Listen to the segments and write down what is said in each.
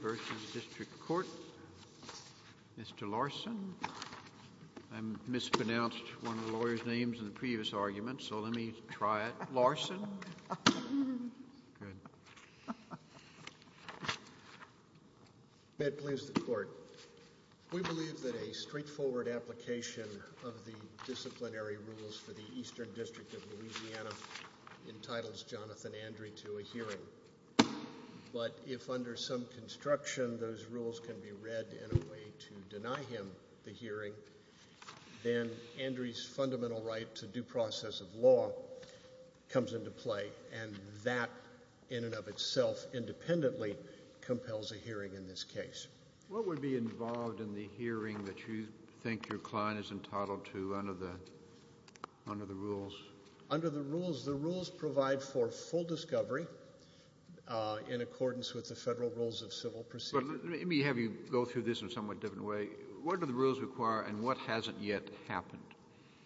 vs. District Court. Mr. Larson. I mispronounced one of the lawyers' names in the previous argument, so let me try it. Larson. It pleases the court. We believe that a straightforward application of the disciplinary rules for the Eastern District of Louisiana entitles Jonathan Andry to a hearing, but if under some construction those rules can be read in a way to deny him the hearing, then Andry's fundamental right to due process of law comes into play, and that in and of itself independently compels a hearing in this case. What would be involved in the hearing that you think your client is entitled to under the rules? Under the rules, the rules provide for full discovery in accordance with the federal rules of civil procedure. Let me have you go through this in a somewhat different way. What do the rules require and what hasn't yet happened?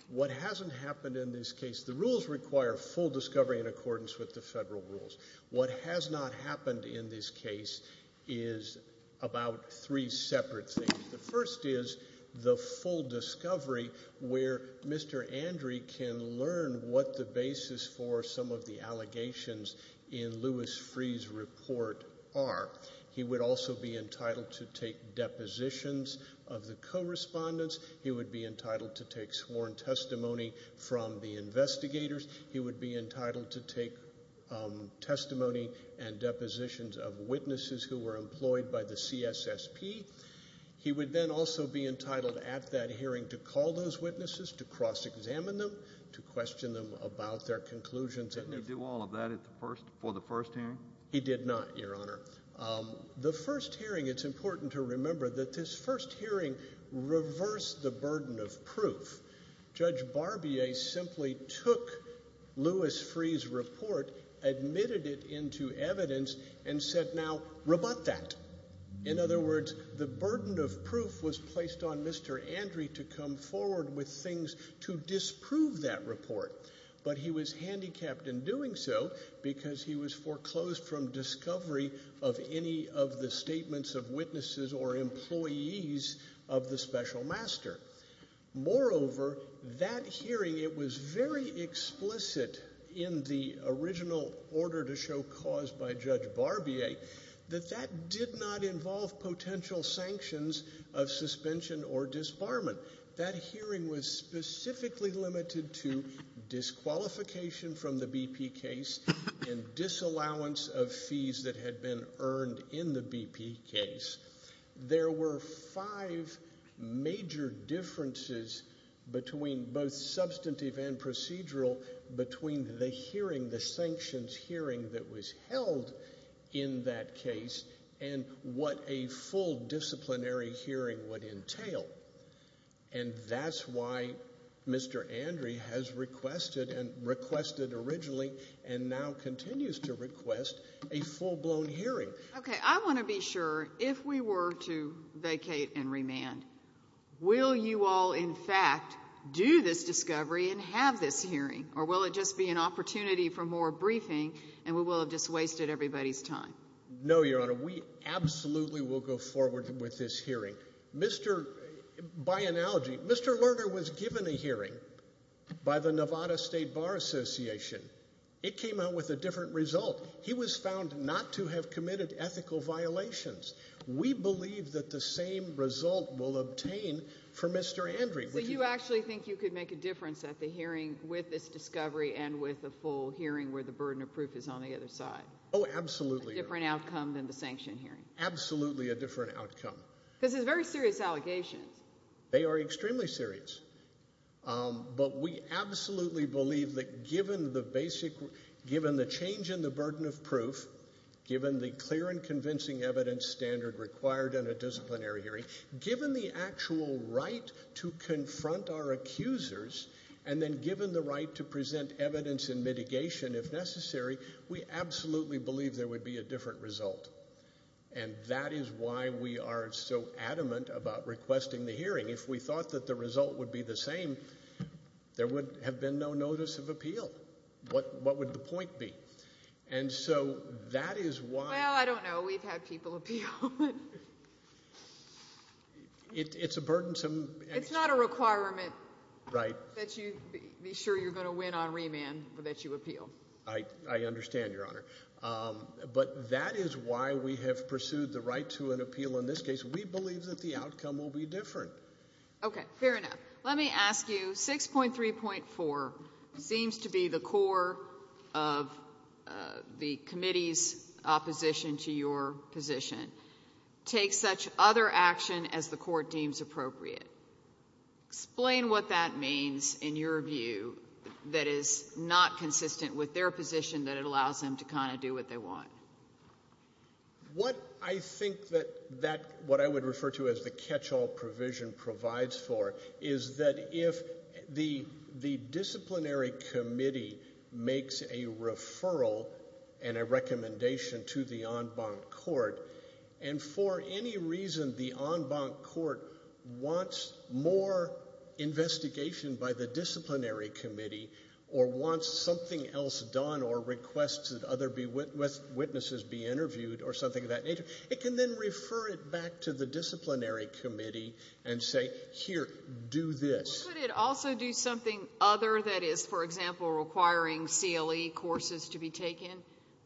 What hasn't happened in this case, the rules require full discovery in accordance with the federal rules. What has not happened in this case is about three separate things. The first is the full discovery where Mr. Andry can learn what the basis for some of the allegations in Louis Freeh's report are. He would also be entitled to take depositions of the correspondents. He would be entitled to take sworn testimony from the investigators. He would be entitled to take testimony and depositions of witnesses who were employed by the CSSP. He would then also be entitled at that hearing to call those witnesses, to cross-examine them, to question them about their conclusions. Didn't he do all of that for the first hearing? He did not, Your Honor. The first hearing, it's important to remember that this first hearing reversed the burden of proof. Judge Barbier simply took Louis Freeh's report, admitted it into evidence, and said, now rebut that. In other words, the burden of proof was placed on Mr. Andry to come forward with things to disprove that report. But he was disclosed from discovery of any of the statements of witnesses or employees of the special master. Moreover, that hearing, it was very explicit in the original order to show cause by Judge Barbier that that did not involve potential sanctions of suspension or disbarment. That had been earned in the BP case. There were five major differences between both substantive and procedural between the hearing, the sanctions hearing that was held in that case and what a full disciplinary hearing would entail. And that's why Mr. Andry has requested and now continues to request a full-blown hearing. Okay, I want to be sure, if we were to vacate and remand, will you all, in fact, do this discovery and have this hearing? Or will it just be an opportunity for more briefing and we will have just wasted everybody's time? No, Your Honor. We absolutely will go forward with this hearing. By analogy, Mr. Lerner was given a hearing by the Nevada State Bar Association. It came out with a different result. He was found not to have committed ethical violations. We believe that the same result will obtain for Mr. Andry. So you actually think you could make a difference at the hearing with this discovery and with a full hearing where the burden of proof is on the other side? Oh, absolutely. A different outcome than the sanction hearing? Absolutely a different outcome. Because it's very serious allegations. They are extremely serious. But we absolutely believe that given the change in the burden of proof, given the clear and convincing evidence standard required in a disciplinary hearing, given the actual right to confront our accusers, and then given the right to present evidence and mitigation if necessary, we absolutely believe there would be a different result. And that is why we are so adamant about requesting the hearing. If we thought that the result would be the same, there would have been no notice of appeal. What would the point be? And so that is why... Well, I don't know. We've had people appeal. It's a burdensome... It's not a requirement that you be sure you're going to win on remand that you appeal. I understand, Your Honor. But that is why we have pursued the right to an appeal in this case. We believe that the outcome will be different. Okay, fair enough. Let me ask you, 6.3.4 seems to be the core of the committee's opposition to your position. Take such other action as the court deems appropriate. Explain what that means in your view that is not consistent with their position that it allows them to kind of do what they want. What I think that what I would refer to as the catch-all provision provides for is that if the disciplinary committee makes a referral and a recommendation to the en banc court, and for any reason the en banc court wants more investigation by the disciplinary committee or wants something else done or requests that other witnesses be interviewed or something of that nature, it can then refer it back to the disciplinary committee and say, here, do this. Could it also do something other that is, for example, requiring CLE courses to be taken?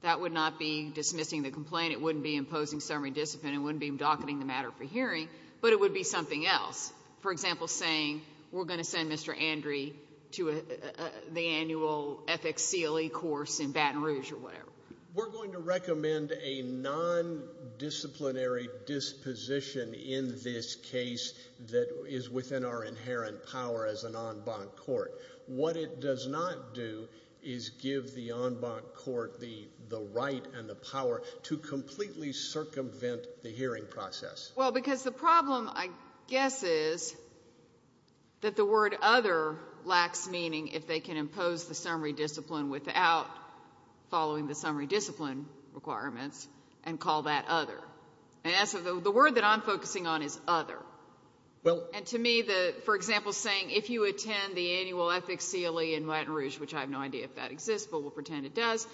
That would not be dismissing the complaint. It wouldn't be imposing summary discipline. It wouldn't be docketing the matter for hearing. But it would be something else. For example, saying we're going to send Mr. Andrie to the annual ethics CLE course in Baton Rouge or whatever. We're going to recommend a non-disciplinary disposition in this case that is within our the right and the power to completely circumvent the hearing process. Well, because the problem, I guess, is that the word other lacks meaning if they can impose the summary discipline without following the summary discipline requirements and call that other. The word that I'm focusing on is other. And to me, for example, saying if you attend the annual ethics CLE in Baton Rouge, which I have no idea if that exists, but we'll pretend it does,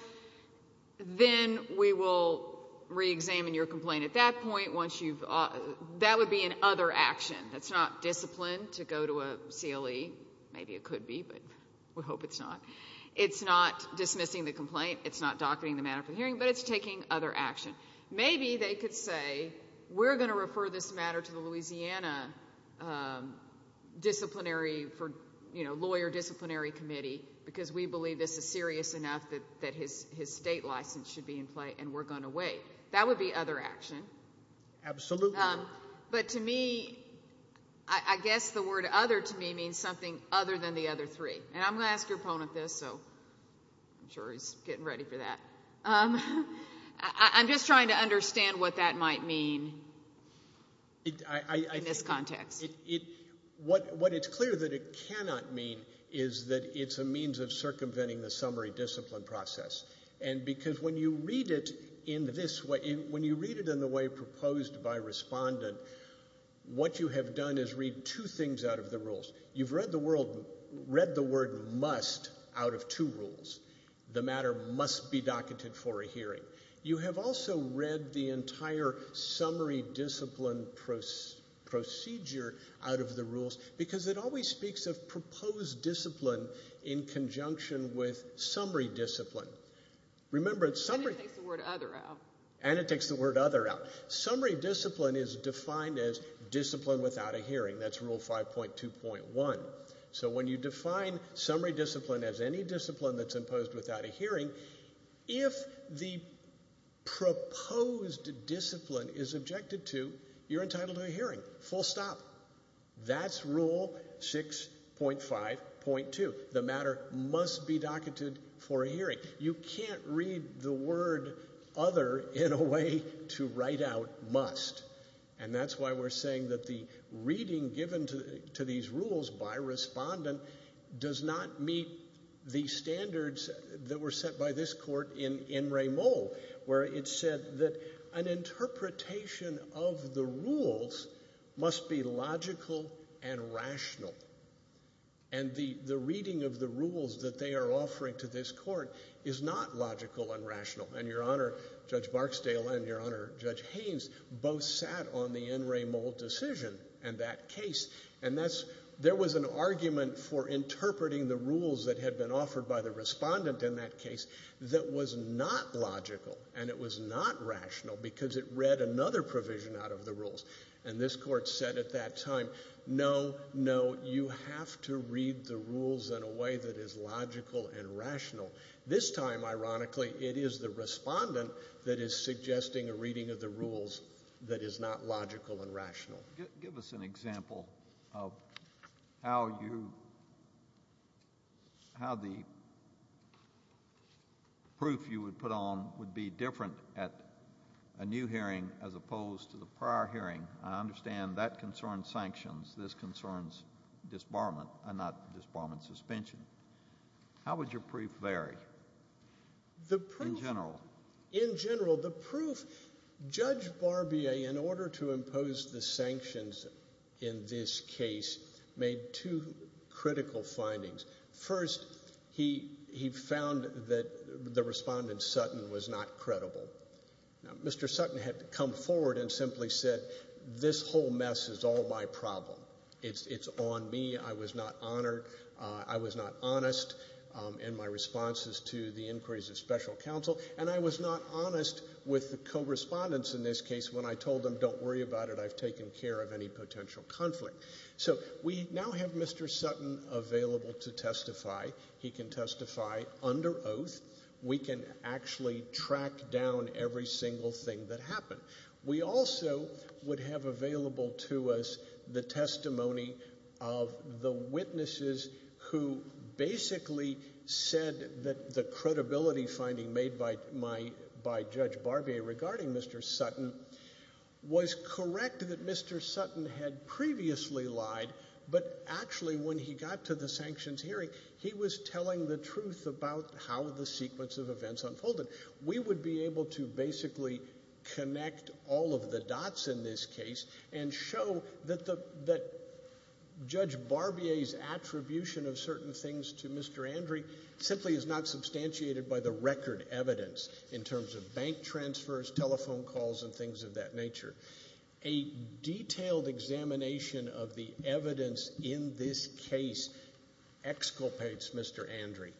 then we will re-examine your complaint at that point. That would be an other action. That's not discipline to go to a CLE. Maybe it could be, but we hope it's not. It's not dismissing the complaint. It's not docketing the matter for hearing. But it's taking other action. Maybe they could say, we're going to refer this matter to the Louisiana disciplinary for lawyer disciplinary committee because we believe this is serious enough that his state license should be in play and we're going to wait. That would be other action. Absolutely. But to me, I guess the word other to me means something other than the other three. And I'm going to ask your opponent this, so I'm sure he's getting ready for that. I'm just trying to understand what that might mean in this context. It, what it's clear that it cannot mean is that it's a means of circumventing the summary discipline process. And because when you read it in this way, when you read it in the way proposed by respondent, what you have done is read two things out of the rules. You've read the word must out of two rules. The matter must be docketed for a hearing. You have also read the entire summary discipline procedure out of the rules because it always speaks of proposed discipline in conjunction with summary discipline. Remember it's summary. And it takes the word other out. Summary discipline is defined as discipline without a hearing. That's rule 5.2.1. So when you define summary discipline as any discipline that's imposed without a hearing, if the proposed discipline is objected to, you're entitled to a hearing. Full stop. That's rule 6.5.2. The matter must be docketed for a hearing. You can't read the word other in a way to write out must. And that's why we're saying that the reading given to these rules by respondent does not meet the standards that were set by this court in N. Ray Moll where it said that an interpretation of the rules must be logical and rational. And the reading of the rules that they are offering to this court is not logical and rational. And Your Honor, Judge Barksdale and Your Honor, Judge Haynes both sat on the N. Ray Moll decision and that case. And there was an argument for interpreting the rules that had been offered by the respondent in that case that was not logical and it was not rational because it read another provision out of the rules. And this court said at that time, no, no, you have to read the rules in a way that is logical and rational. This time, ironically, it is the respondent that is suggesting a reading of the rules that is not logical and rational. Give us an example of how you, how the proof you would put on would be different at a new hearing as opposed to the prior hearing. I understand that concerns sanctions. This concerns disbarment and not disbarment suspension. How would your proof vary in general? In general, the proof, Judge Barbier, in order to impose the sanctions in this case, made two critical findings. First, he found that the respondent, Sutton, was not credible. Mr. Sutton had come forward and simply said, this whole mess is all my problem. It's on me. I was not honored. I was not honest in my responses to the inquiries of special counsel. I was not honest with the co-respondents in this case when I told them, don't worry about it, I've taken care of any potential conflict. We now have Mr. Sutton available to testify. He can testify under oath. We can actually track down every single thing that happened. We also would have available to us the testimony of the witnesses who basically said that the by Judge Barbier regarding Mr. Sutton was correct that Mr. Sutton had previously lied, but actually when he got to the sanctions hearing, he was telling the truth about how the sequence of events unfolded. We would be able to basically connect all of the dots in this case and show that Judge Barbier's attribution of certain things to Mr. Andry simply is not substantiated by the record evidence in terms of bank transfers, telephone calls, and things of that nature. A detailed examination of the evidence in this case exculpates Mr. Andry.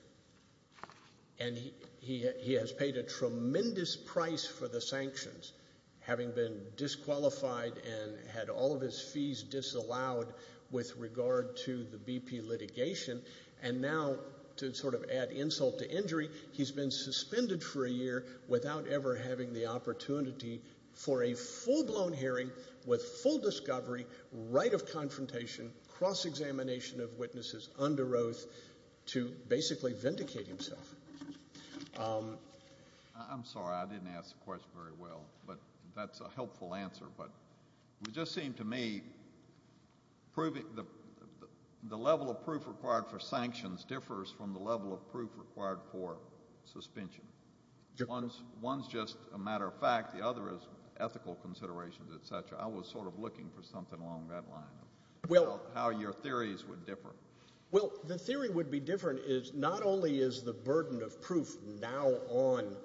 He has paid a tremendous price for the sanctions, having been disqualified and had all of his fees disallowed with regard to the BP litigation, and now to add insult to injury, he's been suspended for a year without ever having the opportunity for a full-blown hearing with full discovery, right of confrontation, cross-examination of witnesses under oath to basically vindicate himself. I'm sorry, I didn't ask the question very well, but that's a helpful answer, but it just seemed to me the level of proof required for sanctions differs from the level of proof required for suspension. One's just a matter of fact, the other is ethical considerations, etc. I was sort of looking for something along that line of how your theories would differ. Well the theory would be different is not only is the burden of proof now on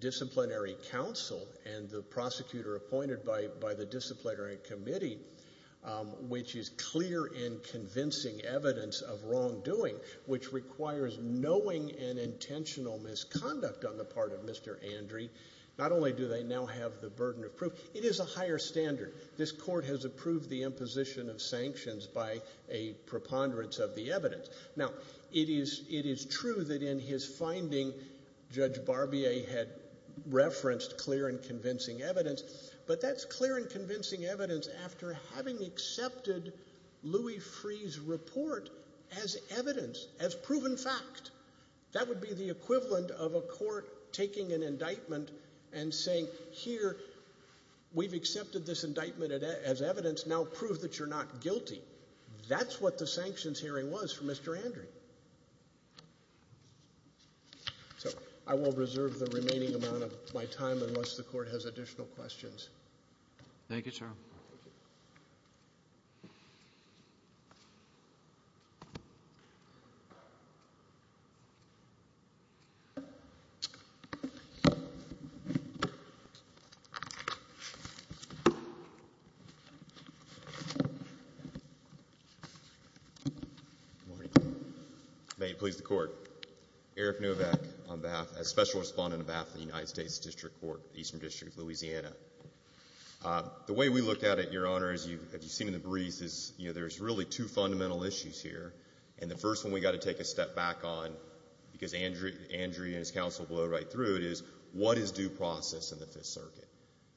disciplinary counsel and the prosecutor appointed by the disciplinary committee, which is clear and clear, and there's knowing and intentional misconduct on the part of Mr. Andry, not only do they now have the burden of proof, it is a higher standard. This court has approved the imposition of sanctions by a preponderance of the evidence. Now it is true that in his finding Judge Barbier had referenced clear and convincing evidence, but that's clear and convincing evidence after having accepted Louis Freeh's report as evidence, as proven fact. That would be the equivalent of a court taking an indictment and saying, here, we've accepted this indictment as evidence, now prove that you're not guilty. That's what the sanctions hearing was for Mr. Andry. So I will reserve the remaining amount of my time unless the court has additional questions. Thank you, sir. Good morning. May it please the court. Eric Novak on behalf, as Special Respondent of BAFTA, United States District Court, Eastern District, Louisiana. The way we look at it, Your Honor, as you've seen in the briefs, is there's really two fundamental issues here, and the first one we've got to take a step back on, because Andry and his counsel will go right through it, is what is due process in the Fifth Circuit?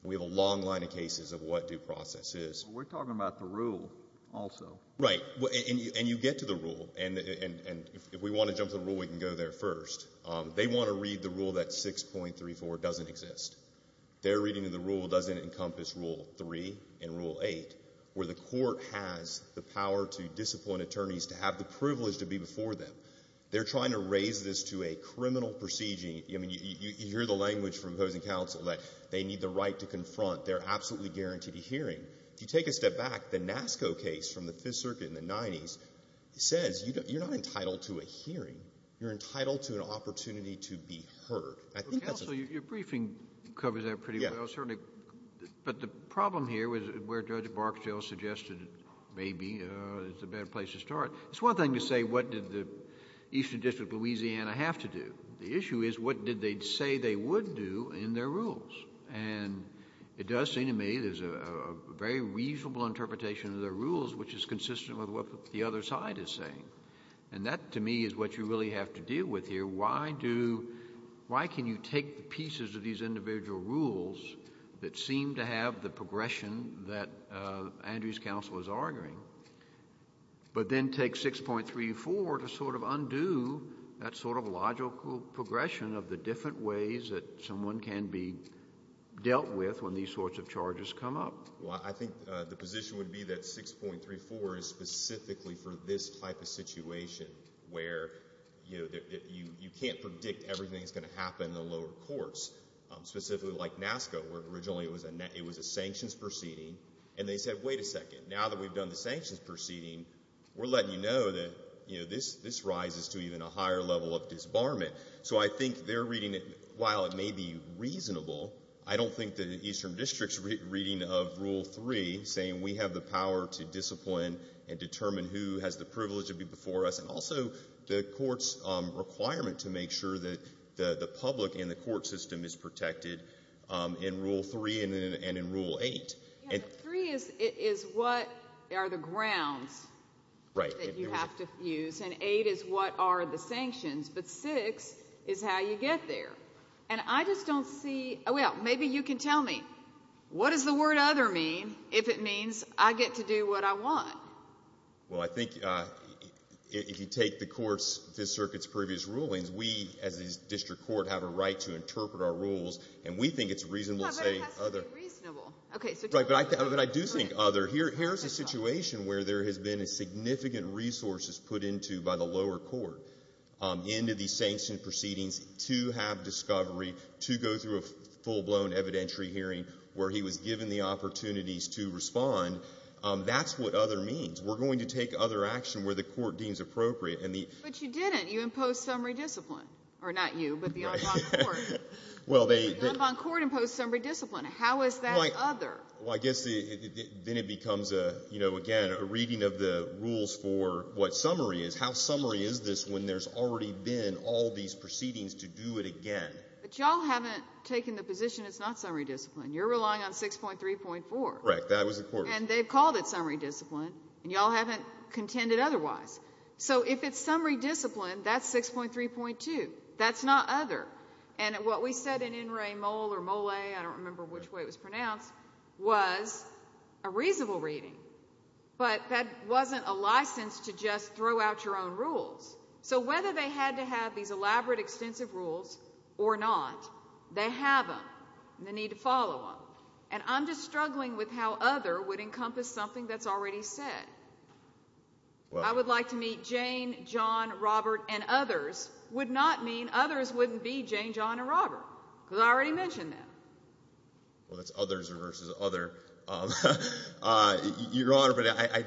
We have a long line of cases of what due process is. We're talking about the rule also. Right. And you get to the rule, and if we want to jump to the rule, we can go there first. They want to read the rule that 6.34 doesn't exist. Their reading of the rule doesn't encompass Rule 3 and Rule 8, where the court has the power to disappoint attorneys to have the privilege to be before them. They're trying to raise this to a criminal proceeding. I mean, you hear the language from opposing counsel that they need the right to confront their absolutely guaranteed hearing. If you take a step back, the NASCO case from the Fifth Circuit in the 90s says you're not entitled to a hearing. You're entitled to an opportunity to be heard. I think that's a… Counsel, your briefing covers that pretty well. Yeah. Certainly. But the problem here is where Judge Barksdale suggested, maybe, it's a bad place to start. It's one thing to say, what did the Eastern District of Louisiana have to do? The issue is, what did they say they would do in their rules? And it does seem to me there's a very reasonable interpretation of their rules, which is consistent with what the other side is saying. And that, to me, is what you really have to deal with here. Why do… Why can you take the pieces of these individual rules that seem to have the progression that Andrew's counsel is arguing, but then take 6.34 to sort of undo that sort of logical progression of the different ways that someone can be dealt with when these sorts of charges come up? Well, I think the position would be that 6.34 is specifically for this type of situation, where, you know, specifically like NASCA, where originally it was a sanctions proceeding, and they said, wait a second, now that we've done the sanctions proceeding, we're letting you know that, you know, this rises to even a higher level of disbarment. So I think they're reading it, while it may be reasonable, I don't think the Eastern District's reading of Rule 3, saying we have the power to discipline and determine who has the privilege to be before us, and also the court's requirement to make sure that the public and the court system is protected in Rule 3 and in Rule 8. Yeah, but 3 is what are the grounds that you have to use, and 8 is what are the sanctions, but 6 is how you get there. And I just don't see… Well, maybe you can tell me, what does the word other mean if it means I get to do what I want? Well, I think if you take the court's, this circuit's previous rulings, we as a district court have a right to interpret our rules, and we think it's reasonable to say other. No, but it has to be reasonable. Right, but I do think other. Here's a situation where there has been significant resources put into by the lower court, into the sanctioned proceedings, to have discovery, to go through a full-blown evidentiary hearing where he was given the opportunities to respond. That's what other means. We're going to take other action where the court deems appropriate. But you didn't. You imposed summary discipline. Or not you, but the en banc court. Well, they… The en banc court imposed summary discipline. How is that other? Well, I guess then it becomes, you know, again, a reading of the rules for what summary is. How summary is this when there's already been all these proceedings to do it again? But y'all haven't taken the position it's not summary discipline. You're relying on 6.3.4. Right, that was the court's. And they've called it summary discipline, and y'all haven't contended otherwise. So if it's summary discipline, that's 6.3.2. That's not other. And what we said in En Re Mole, or Mole, I don't remember which way it was pronounced, was a reasonable reading. But that wasn't a license to just throw out your own rules. So whether they had to have these elaborate, extensive rules or not, they have them, and they need to follow them. And I'm just struggling with how other would encompass something that's already said. I would like to meet Jane, John, Robert, and others would not mean others wouldn't be Jane, John, and Robert, because I already mentioned them. Well, that's others versus other. Your Honor, but I…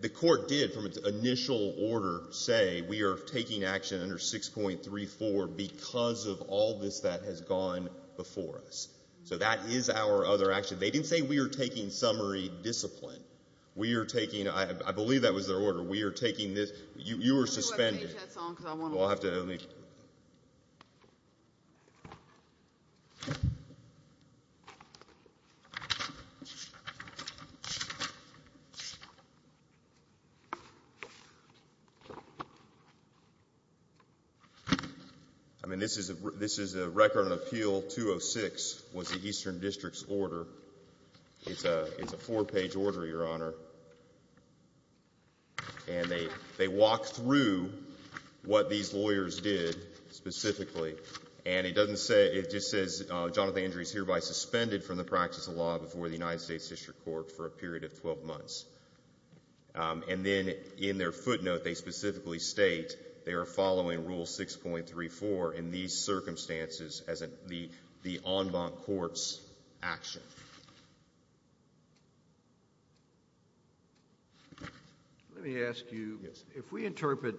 The court did, from its initial order, say we are taking action under 6.3.4 because of all this that has gone before us. So that is our other action. They didn't say we are taking summary discipline. We are taking… I believe that was their order. We are taking this… You are suspended. Well, I'll have to… I mean, this is a record of Appeal 206, was the Eastern District's order. It's a four-page order, Your Honor. And they walk through what these lawyers did specifically. And it doesn't say… It just says, Jonathan Andrews hereby suspended from the practice of law before the United States District Court for a period of 12 months. And then in their footnote, they specifically state they are following Rule 6.3.4 in these circumstances as the en process of action. Let me ask you, if we interpret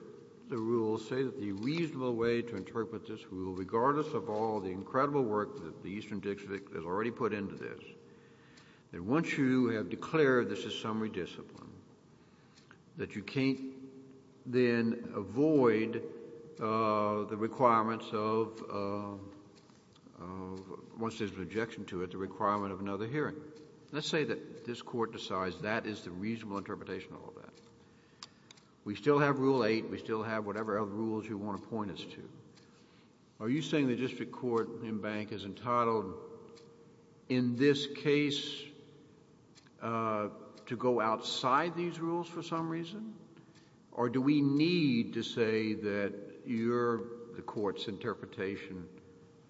the rules, say that the reasonable way to interpret this rule, regardless of all the incredible work that the Eastern District has already put into this, that once you have declared this is summary discipline, that you can't then avoid the requirements of… Once there is an objection to it, the requirement of another hearing. Let's say that this Court decides that is the reasonable interpretation of all that. We still have Rule 8. We still have whatever other rules you want to point us to. Are you saying the District Court in Bank is entitled in this case to go outside these rules for some reason? Or do we need to say that your… the Court's interpretation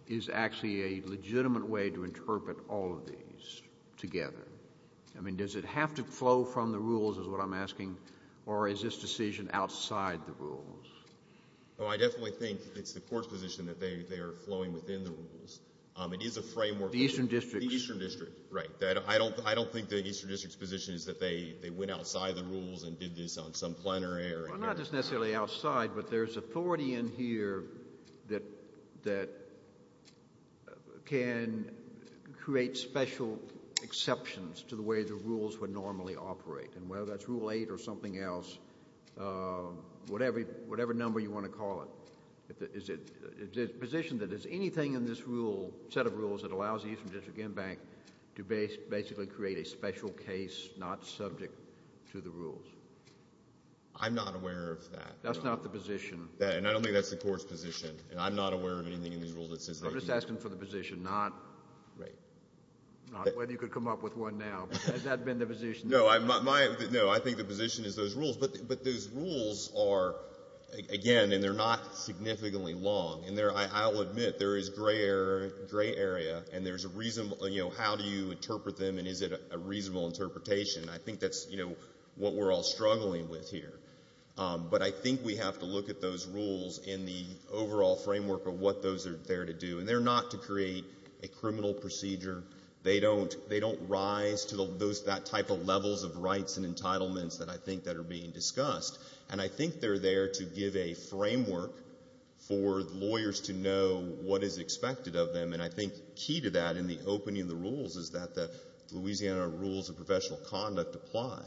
is actually a legitimate way to interpret all of these together? I mean, does it have to flow from the rules is what I'm asking, or is this decision outside the rules? Well, I definitely think it's the Court's position that they are flowing within the rules. It is a framework… The Eastern District. The Eastern District, right. I don't think the Eastern District's position is that they went outside the rules and did this on some plenary or… Well, not just necessarily outside, but there's authority in here that can create special exceptions to the way the rules would normally operate. And whether that's Rule 8 or something else, whatever number you want to call it, is it positioned that there's anything in this rule, set of rules, that allows the Eastern District in Bank to basically create a special case not subject to the rules? I'm not aware of that. That's not the position. And I don't think that's the Court's position. And I'm not aware of anything in these rules that says… I'm just asking for the position, not whether you could come up with one now. Has that been the position? No, I think the position is those rules. But those rules are, again, and they're not in their gray area. And there's a reasonable, you know, how do you interpret them and is it a reasonable interpretation? I think that's, you know, what we're all struggling with here. But I think we have to look at those rules in the overall framework of what those are there to do. And they're not to create a criminal procedure. They don't rise to that type of levels of rights and entitlements that I think that are being discussed. And I think they're there to give a framework for lawyers to know what is expected of them. And I think key to that in the opening of the rules is that the Louisiana Rules of Professional Conduct apply.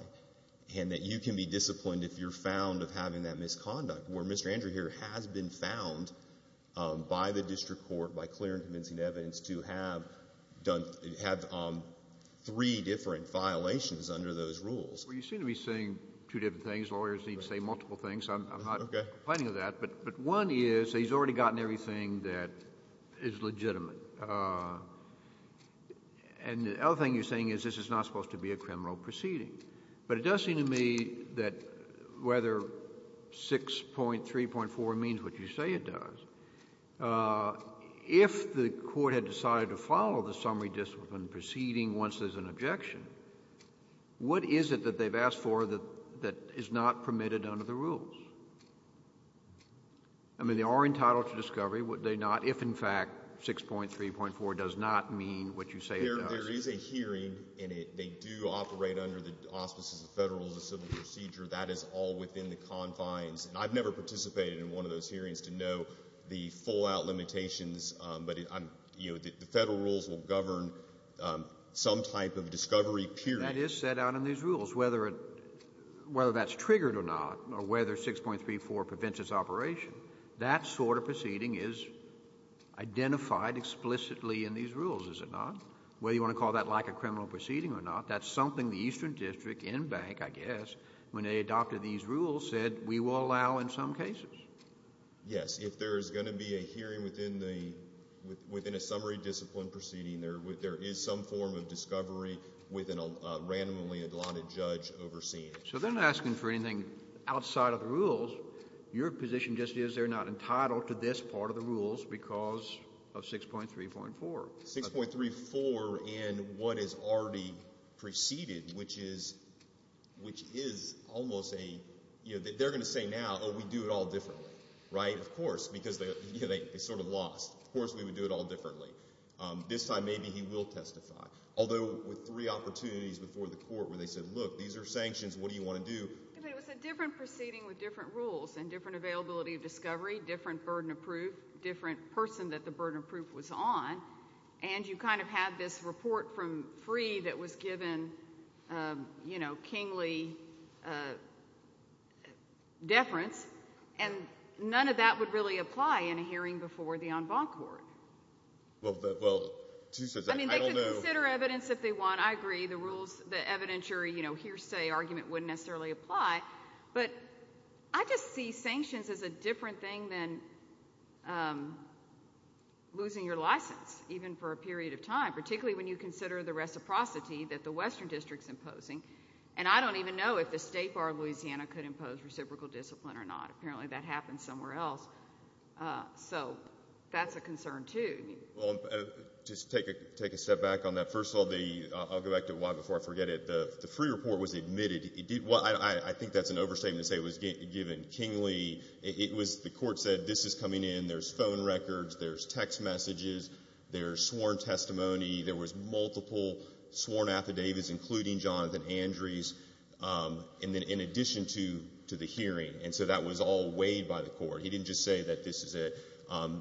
And that you can be disappointed if you're found of having that misconduct. Where Mr. Andrew here has been found by the District Court, by clear and convincing evidence, to have three different violations under those rules. Well, you seem to be saying two different things. Lawyers need to say multiple things. I'm not complaining of that. But one is, he's already gotten everything that is legitimate. And the other thing you're saying is this is not supposed to be a criminal proceeding. But it does seem to me that whether 6.3.4 means what you say it does, if the court had decided to follow the summary discipline proceeding once there's an objection, what is it that they've asked for that is not permitted under the rules? I mean, they are entitled to discovery, would they not, if in fact 6.3.4 does not mean what you say it does? There is a hearing, and they do operate under the auspices of federal civil procedure. That is all within the confines. And I've never participated in one of those hearings to know the full-out limitations, but the federal rules will govern some type of discovery period. That is set out in these rules. Whether that's triggered or not, or whether 6.3.4 prevents its operation, that sort of proceeding is identified explicitly in these rules, is it not? Whether you want to call that like a criminal proceeding or not, that's something the Eastern District, in-bank, I guess, when they adopted these rules, said we will allow in some cases. Yes, if there's going to be a hearing within a summary discipline proceeding, there is some form of discovery with a randomly-adopted judge overseeing it. So they're not asking for anything outside of the rules. Your position just is they're not entitled to this part of the rules because of 6.3.4. And what is already preceded, which is almost a, they're going to say now, oh, we do it all differently. Right? Of course. Because they sort of lost. Of course we would do it all differently. This time maybe he will testify. Although with three opportunities before the court where they said, look, these are sanctions, what do you want to do? It was a different proceeding with different rules and different availability of discovery, different burden of proof, different person that the burden of proof was on. And you kind of have this report from free that was given, you know, kingly deference. And none of that would really apply in a hearing before the en banc court. Well, I don't know. I mean, they could consider evidence if they want. I agree. The rules, the evidentiary, you know, hearsay argument wouldn't necessarily apply. But I just see sanctions as a different thing than losing your license, even for a period of time, particularly when you consider the reciprocity that the western district is imposing. And I don't even know if the State Bar of Louisiana could impose reciprocal discipline or not. Apparently that happens somewhere else. So that's a concern, too. Just take a step back on that. First of all, I'll go back to why before I forget it. The free report was admitted. I think that's an overstatement to say it was given kingly. The court said this is coming in. There's phone records. There's text messages. There's sworn testimony. There was multiple sworn affidavits, including Jonathan Andree's, in addition to the hearing. And so that was all weighed by the court. He didn't just say that this is it.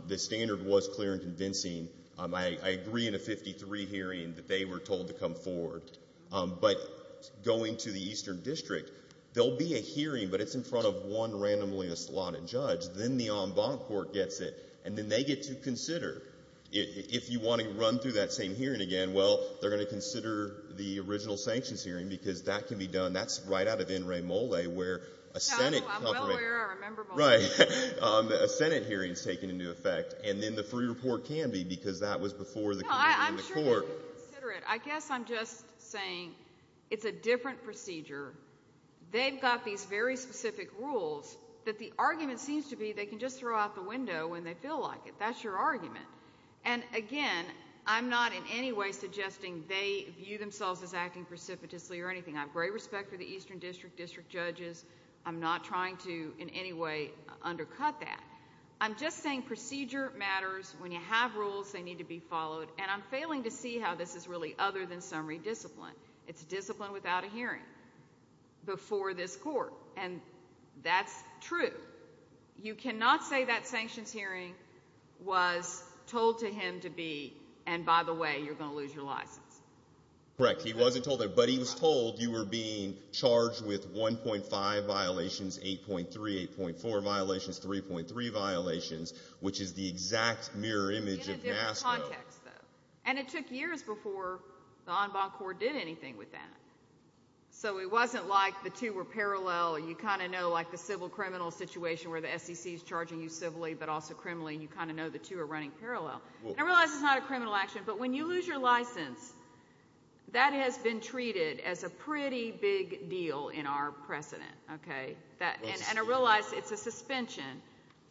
The standard was clear and convincing. I agree in a 53 hearing that they were told to come forward. But going to the eastern district, there will be a hearing, but it's in front of one randomly assaulted judge. Then the en banc court gets it. And then they get to consider. If you want to run through that same hearing again, well, they're going to consider the original sanctions hearing, because that can be done. That's right out of in re mole, where a Senate conference. I'm well aware. I remember mole. Right. A Senate hearing is taken into effect. And then the free report can be, because that was before the court. No, I'm sure they can consider it. I guess I'm just saying it's a different procedure. They've got these very specific rules that the argument seems to be they can just throw out the window when they feel like it. That's your argument. And, again, I'm not in any way suggesting they view themselves as acting precipitously or anything. I have great respect for the eastern district, district judges. I'm not trying to in any way undercut that. I'm just saying procedure matters. When you have rules, they need to be followed. And I'm failing to see how this is really other than summary discipline. It's discipline without a hearing before this court. And that's true. You cannot say that sanctions hearing was told to him to be, and by the way, you're going to lose your license. Correct. He wasn't told that. But he was told you were being charged with 1.5 violations, 8.3, 8.4 violations, 3.3 violations, which is the exact mirror image of NASDAQ. In a different context, though. And it took years before the En Banc Corps did anything with that. So it wasn't like the two were parallel. You kind of know like the civil criminal situation where the SEC is charging you civilly but also criminally. You kind of know the two are running parallel. And I realize it's not a criminal action, but when you lose your license, that has been treated as a pretty big deal in our precedent. And I realize it's a suspension,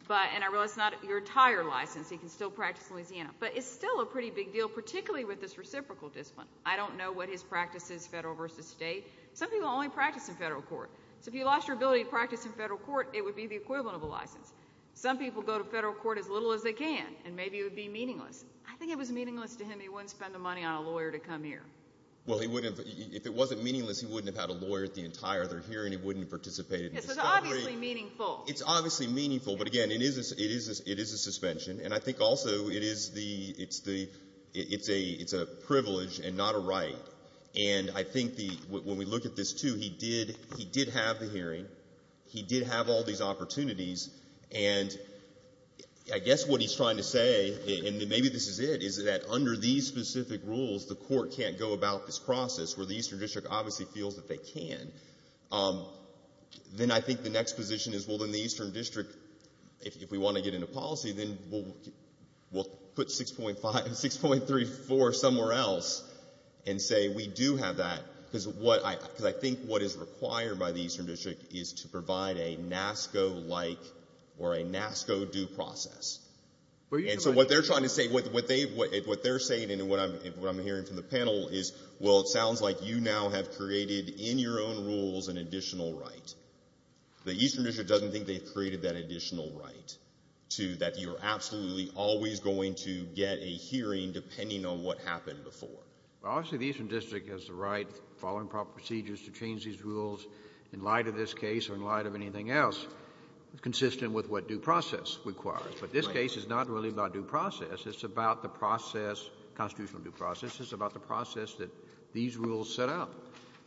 and I realize it's not your entire license. He can still practice in Louisiana. But it's still a pretty big deal, particularly with this reciprocal discipline. I don't know what his practice is, federal versus state. Some people only practice in federal court. So if you lost your ability to practice in federal court, it would be the equivalent of a license. Some people go to federal court as little as they can, and maybe it would be meaningless. I think it was meaningless to him. He wouldn't spend the money on a lawyer to come here. Well, he wouldn't have. If it wasn't meaningless, he wouldn't have had a lawyer at the entire other hearing. He wouldn't have participated in the discovery. It's obviously meaningful. It's obviously meaningful. But, again, it is a suspension. And I think also it is the – it's a privilege and not a right. And I think when we look at this, too, he did have the hearing. He did have all these opportunities. And I guess what he's trying to say, and maybe this is it, is that under these specific rules the court can't go about this process, where the Eastern District obviously feels that they can. Then I think the next position is, well, then the Eastern District, if we want to get into policy, then we'll put 6.5 – 6.34 somewhere else and say we do have that, because I think what is required by the Eastern District is to provide a NASCO-like or a NASCO due process. And so what they're trying to say – what they're saying and what I'm hearing from the panel is, well, it sounds like you now have created in your own rules an additional right. The Eastern District doesn't think they've created that additional right to that you're absolutely always going to get a hearing depending on what happened before. Well, obviously the Eastern District has the right, following proper procedures, to change these rules in light of this case or in light of anything else, consistent with what due process requires. But this case is not really about due process. It's about the process, constitutional due process. It's about the process that these rules set out.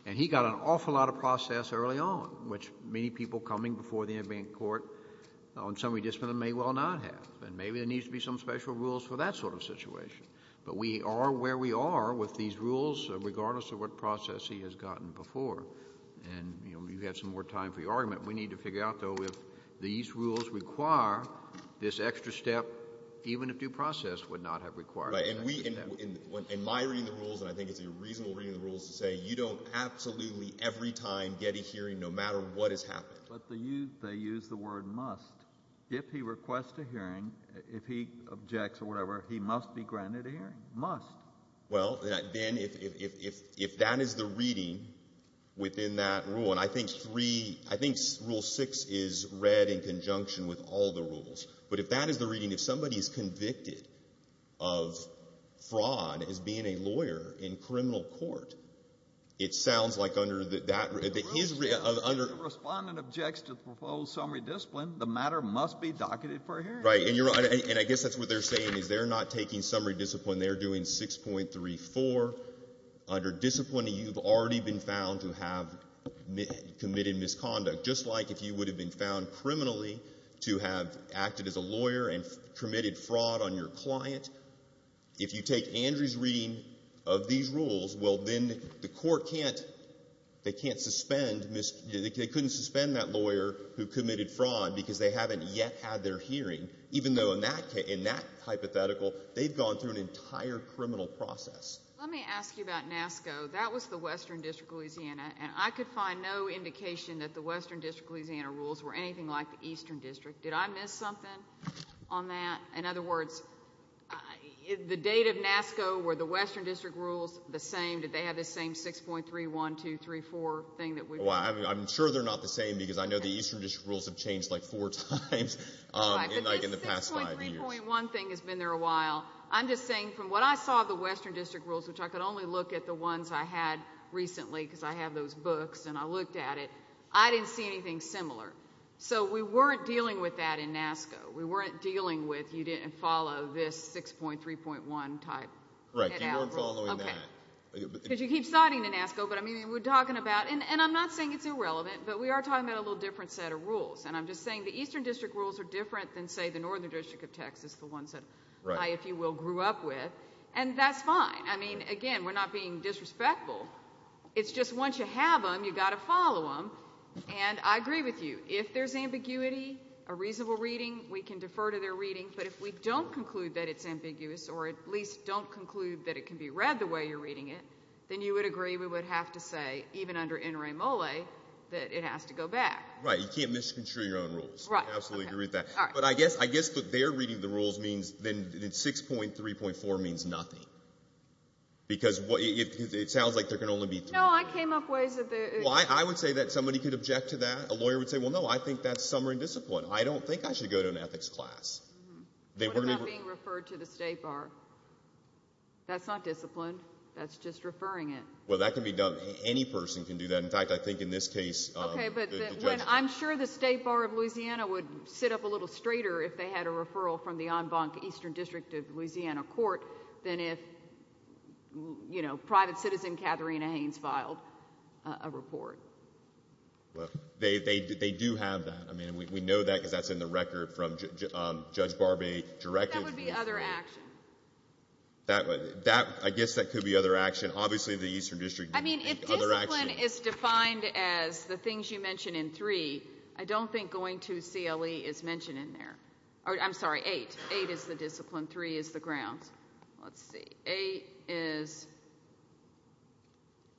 And he got an awful lot of process early on, which many people coming before the Indian Court on some rediscipline may well not have. And maybe there needs to be some special rules for that sort of situation. But we are where we are with these rules, regardless of what process he has gotten before. And, you know, you have some more time for your argument. We need to figure out, though, if these rules require this extra step, even if due process would not have required this extra step. Right. And we – in my reading of the rules, and I think it's a reasonable reading of the rules to say, you don't absolutely every time get a hearing no matter what has happened. But they use the word must. If he requests a hearing, if he objects or whatever, he must be granted a hearing. Must. Well, then if that is the reading within that rule, and I think three – I think Rule 6 is read in conjunction with all the rules. But if that is the reading, if somebody is convicted of fraud as being a lawyer in criminal court, it sounds like under that – If the Respondent objects to the proposed summary discipline, the matter must be docketed for a hearing. Right. And I guess that's what they're saying, is they're not taking summary discipline. They're doing 6.34. Under discipline, you've already been found to have committed misconduct, just like if you would have been found criminally to have acted as a lawyer and committed fraud on your client. If you take Andrew's reading of these rules, well, then the court can't – they can't suspend – they couldn't suspend that lawyer who committed fraud because they haven't yet had their hearing, even though in that hypothetical, they've gone through an entire criminal process. Let me ask you about NASCO. That was the Western District of Louisiana, and I could find no indication that the Western District of Louisiana rules were anything like the Eastern District. Did I miss something on that? In other words, the date of NASCO, were the Western District rules the same? Did they have the same 6.31234 thing that we – Well, I'm sure they're not the same because I know the Eastern District rules have changed like four times in the past five years. But this 6.3.1 thing has been there a while. I'm just saying from what I saw of the Western District rules, which I could only look at the ones I had recently because I have those books and I looked at it, I didn't see anything similar. So we weren't dealing with that in NASCO. We weren't dealing with you didn't follow this 6.3.1 type. Right, you weren't following that. Because you keep citing the NASCO, but I mean we're talking about – and I'm not saying it's irrelevant, but we are talking about a little different set of rules. And I'm just saying the Eastern District rules are different than, say, the Northern District of Texas, the ones that I, if you will, grew up with, and that's fine. I mean, again, we're not being disrespectful. It's just once you have them, you've got to follow them. And I agree with you. If there's ambiguity, a reasonable reading, we can defer to their reading. But if we don't conclude that it's ambiguous, or at least don't conclude that it can be read the way you're reading it, then you would agree we would have to say, even under N. Ray Molle, that it has to go back. Right, you can't misconstrue your own rules. I absolutely agree with that. But I guess what they're reading the rules means then 6.3.4 means nothing. Because it sounds like there can only be three. No, I came up ways that there is. Well, I would say that somebody could object to that. A lawyer would say, well, no, I think that's summary discipline. I don't think I should go to an ethics class. What about being referred to the State Bar? That's not discipline. That's just referring it. Well, that can be done. Any person can do that. In fact, I think in this case the judge did. Okay, but I'm sure the State Bar of Louisiana would sit up a little straighter if they had a referral from the en banc Eastern District of Louisiana court than if, you know, private citizen Katharina Haynes filed a report. Well, they do have that. I mean, we know that because that's in the record from Judge Barbee directed. That would be other action. I guess that could be other action. Obviously, the Eastern District didn't make other action. I mean, if discipline is defined as the things you mention in 3, I don't think going to CLE is mentioned in there. I'm sorry, 8. 8 is the discipline. 3 is the grounds. Let's see. 8 is,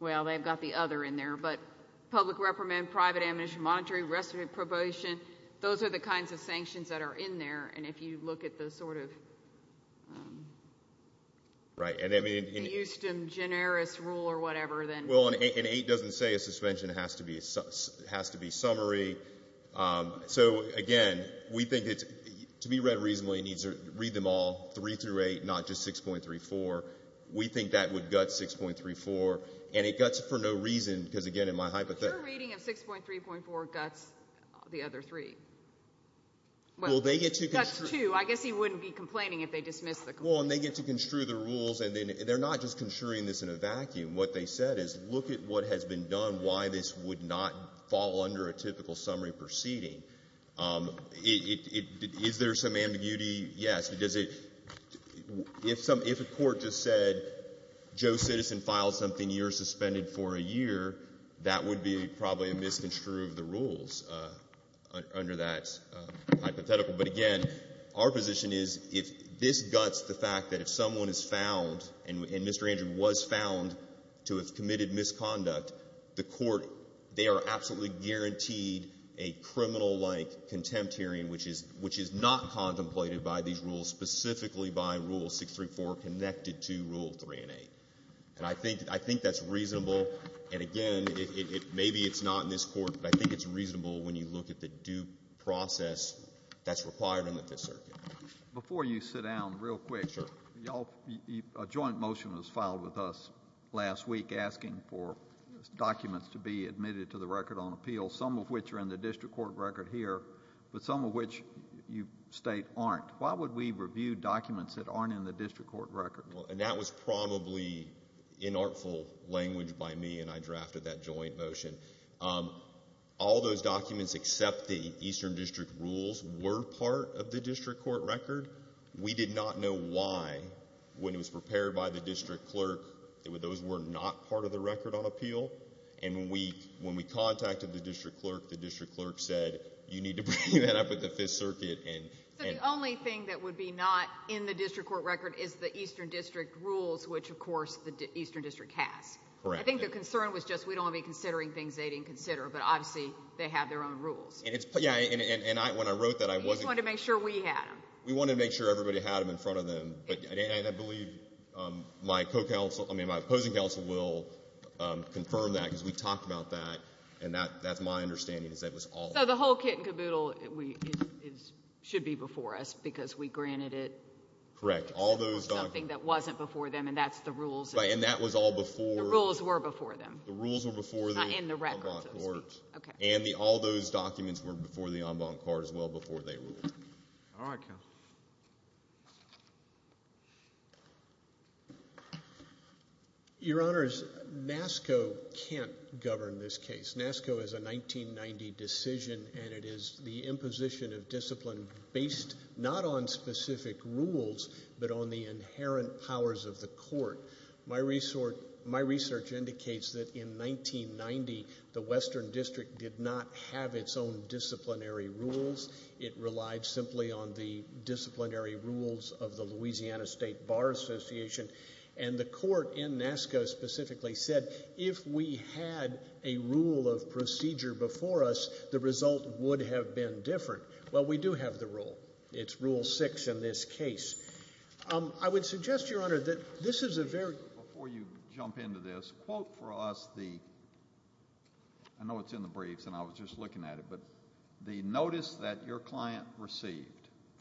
well, they've got the other in there, but public reprimand, private amnesty, monetary restitution, probation. Those are the kinds of sanctions that are in there, and if you look at the sort of Houston generis rule or whatever, then. Well, and 8 doesn't say a suspension has to be summary. So, again, we think it's to be read reasonably, it needs to read them all, 3 through 8, not just 6.34. We think that would gut 6.34, and it guts it for no reason, because, again, in my hypothesis. But your reading of 6.3.4 guts the other three. Well, they get to construe. I guess he wouldn't be complaining if they dismissed the complaint. Well, and they get to construe the rules, and they're not just construing this in a vacuum. What they said is look at what has been done, why this would not fall under a typical summary proceeding. Is there some ambiguity? Yes. If a court just said Joe Citizen filed something, you're suspended for a year, that would be probably a misconstrue of the rules under that hypothetical. But, again, our position is if this guts the fact that if someone is found, and Mr. Andrew was found to have committed misconduct, the court, they are absolutely guaranteed a criminal-like contempt hearing, which is not contemplated by these rules, specifically by Rule 6.3.4 connected to Rule 3 and 8. And I think that's reasonable. And, again, maybe it's not in this court, but I think it's reasonable when you look at the due process that's required in the Fifth Circuit. Before you sit down, real quick. Sure. A joint motion was filed with us last week asking for documents to be admitted to the record on appeal, some of which are in the district court record here, but some of which you state aren't. Why would we review documents that aren't in the district court record? And that was probably inartful language by me, and I drafted that joint motion. All those documents, except the Eastern District rules, were part of the district court record. We did not know why, when it was prepared by the district clerk, those were not part of the record on appeal. And when we contacted the district clerk, the district clerk said, you need to bring that up at the Fifth Circuit. So the only thing that would be not in the district court record is the Eastern District rules, which, of course, the Eastern District has. Correct. I think the concern was just, we don't want to be considering things they didn't consider, but, obviously, they have their own rules. Yeah, and when I wrote that, I wasn't— We just wanted to make sure we had them. We wanted to make sure everybody had them in front of them, and I believe my opposing counsel will confirm that, because we talked about that, and that's my understanding, is that it was all— So the whole kit and caboodle should be before us, because we granted it. Correct. All those documents— Something that wasn't before them, and that's the rules. And that was all before— The rules were before them. The rules were before them. And the records. And all those documents were before the en banc court as well, before they ruled. All right, counsel. Your Honors, NASCO can't govern this case. NASCO is a 1990 decision, and it is the imposition of discipline based not on specific rules, but on the inherent powers of the court. My research indicates that, in 1990, the Western District did not have its own disciplinary rules. It relied simply on the disciplinary rules of the Louisiana State Bar Association, and the court in NASCO specifically said, if we had a rule of procedure before us, the result would have been different. Well, we do have the rule. It's Rule 6 in this case. I would suggest, Your Honor, that this is a very— Before you jump into this, quote for us the— I know it's in the briefs, and I was just looking at it, but the notice that your client received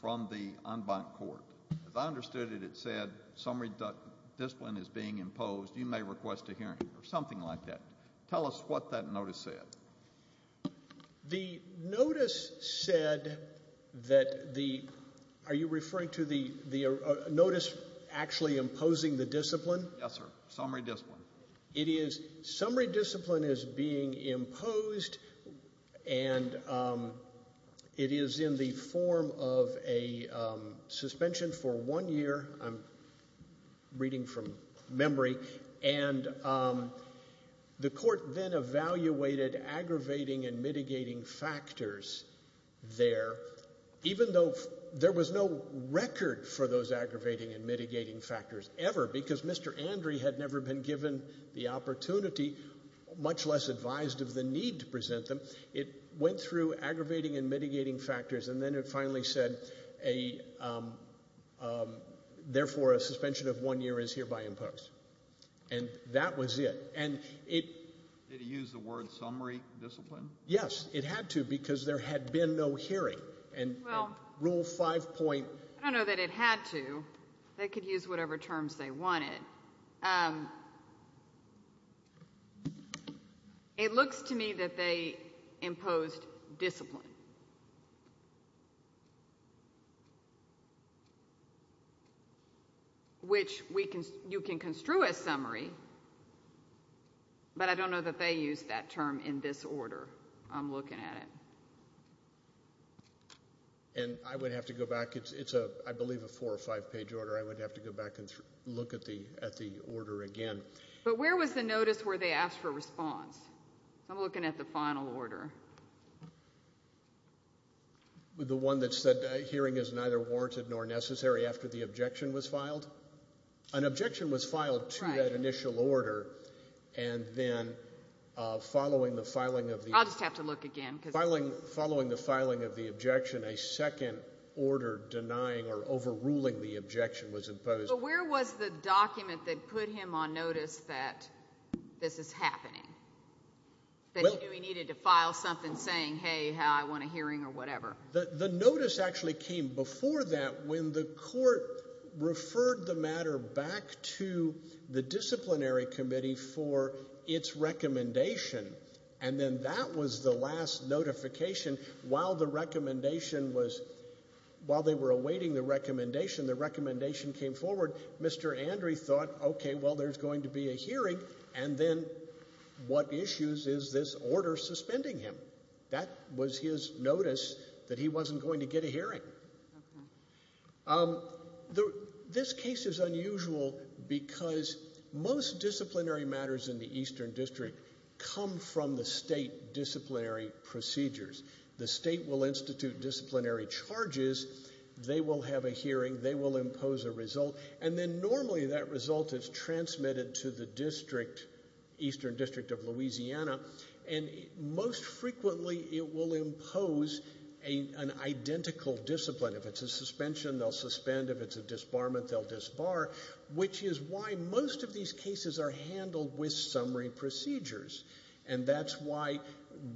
from the en banc court, as I understood it, it said, summary discipline is being imposed. You may request a hearing, or something like that. Tell us what that notice said. The notice said that the— Are you referring to the notice actually imposing the discipline? Yes, sir. Summary discipline. It is—summary discipline is being imposed, and it is in the form of a suspension for one year. I'm reading from memory. And the court then evaluated aggravating and mitigating factors there, even though there was no record for those aggravating and mitigating factors ever, because Mr. Andry had never been given the opportunity, much less advised of the need to present them. It went through aggravating and mitigating factors, and then it finally said, therefore, a suspension of one year is hereby imposed. And that was it. Did it use the word summary discipline? Yes. It had to because there had been no hearing. And Rule 5.— I don't know that it had to. They could use whatever terms they wanted. It looks to me that they imposed discipline, which you can construe as summary, but I don't know that they used that term in this order I'm looking at it. And I would have to go back. It's, I believe, a four- or five-page order. I would have to go back and look at the order again. But where was the notice where they asked for a response? I'm looking at the final order. The one that said hearing is neither warranted nor necessary after the objection was filed? An objection was filed to that initial order, and then following the filing of the— I'll just have to look again. Following the filing of the objection, a second order denying or overruling the objection was imposed. But where was the document that put him on notice that this is happening, that he knew he needed to file something saying, hey, I want a hearing or whatever? The notice actually came before that when the court referred the matter back to the disciplinary committee for its recommendation. And then that was the last notification. While the recommendation was—while they were awaiting the recommendation, the recommendation came forward. Mr. Andry thought, okay, well, there's going to be a hearing, and then what issues is this order suspending him? That was his notice that he wasn't going to get a hearing. This case is unusual because most disciplinary matters in the Eastern District come from the state disciplinary procedures. The state will institute disciplinary charges. They will have a hearing. They will impose a result, and then normally that result is transmitted to the district, Eastern District of Louisiana, and most frequently it will impose an identical discipline. If it's a suspension, they'll suspend. If it's a disbarment, they'll disbar, which is why most of these cases are handled with summary procedures. And that's why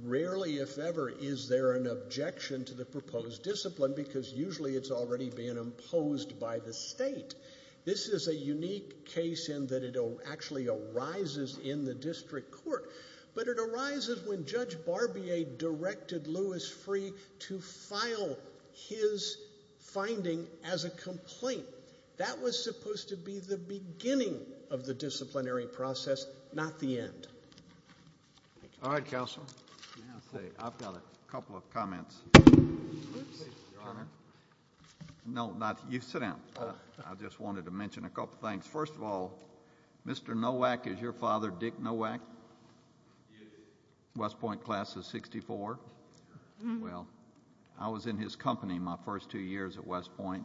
rarely, if ever, is there an objection to the proposed discipline because usually it's already been imposed by the state. This is a unique case in that it actually arises in the district court, but it arises when Judge Barbier directed Louis Freeh to file his finding as a complaint. That was supposed to be the beginning of the disciplinary process, not the end. All right, counsel. I've got a couple of comments. Your Honor. No, you sit down. I just wanted to mention a couple of things. First of all, Mr. Nowak, is your father Dick Nowak? He is. West Point class of 64? Yes. Well, I was in his company my first two years at West Point,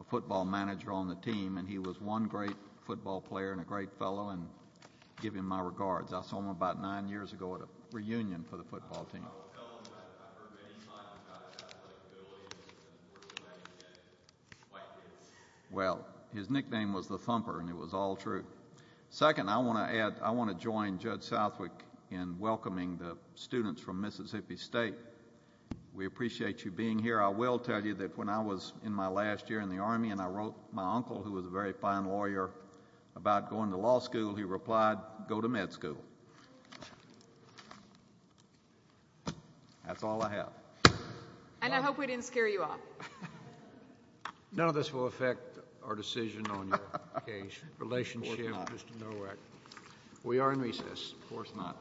a football manager on the team, and he was one great football player and a great fellow, and I give him my regards. I saw him about nine years ago at a reunion for the football team. I told him that I've heard many times about his athletic abilities, and we're going to let him get quite good. Well, his nickname was the Thumper, and it was all true. Second, I want to join Judge Southwick in welcoming the students from Mississippi State. We appreciate you being here. I will tell you that when I was in my last year in the Army and I wrote my uncle, who was a very fine lawyer, about going to law school, he replied, go to med school. That's all I have. And I hope we didn't scare you off. None of this will affect our decision on your relationship with Mr. Nowak. We are in recess. Of course not.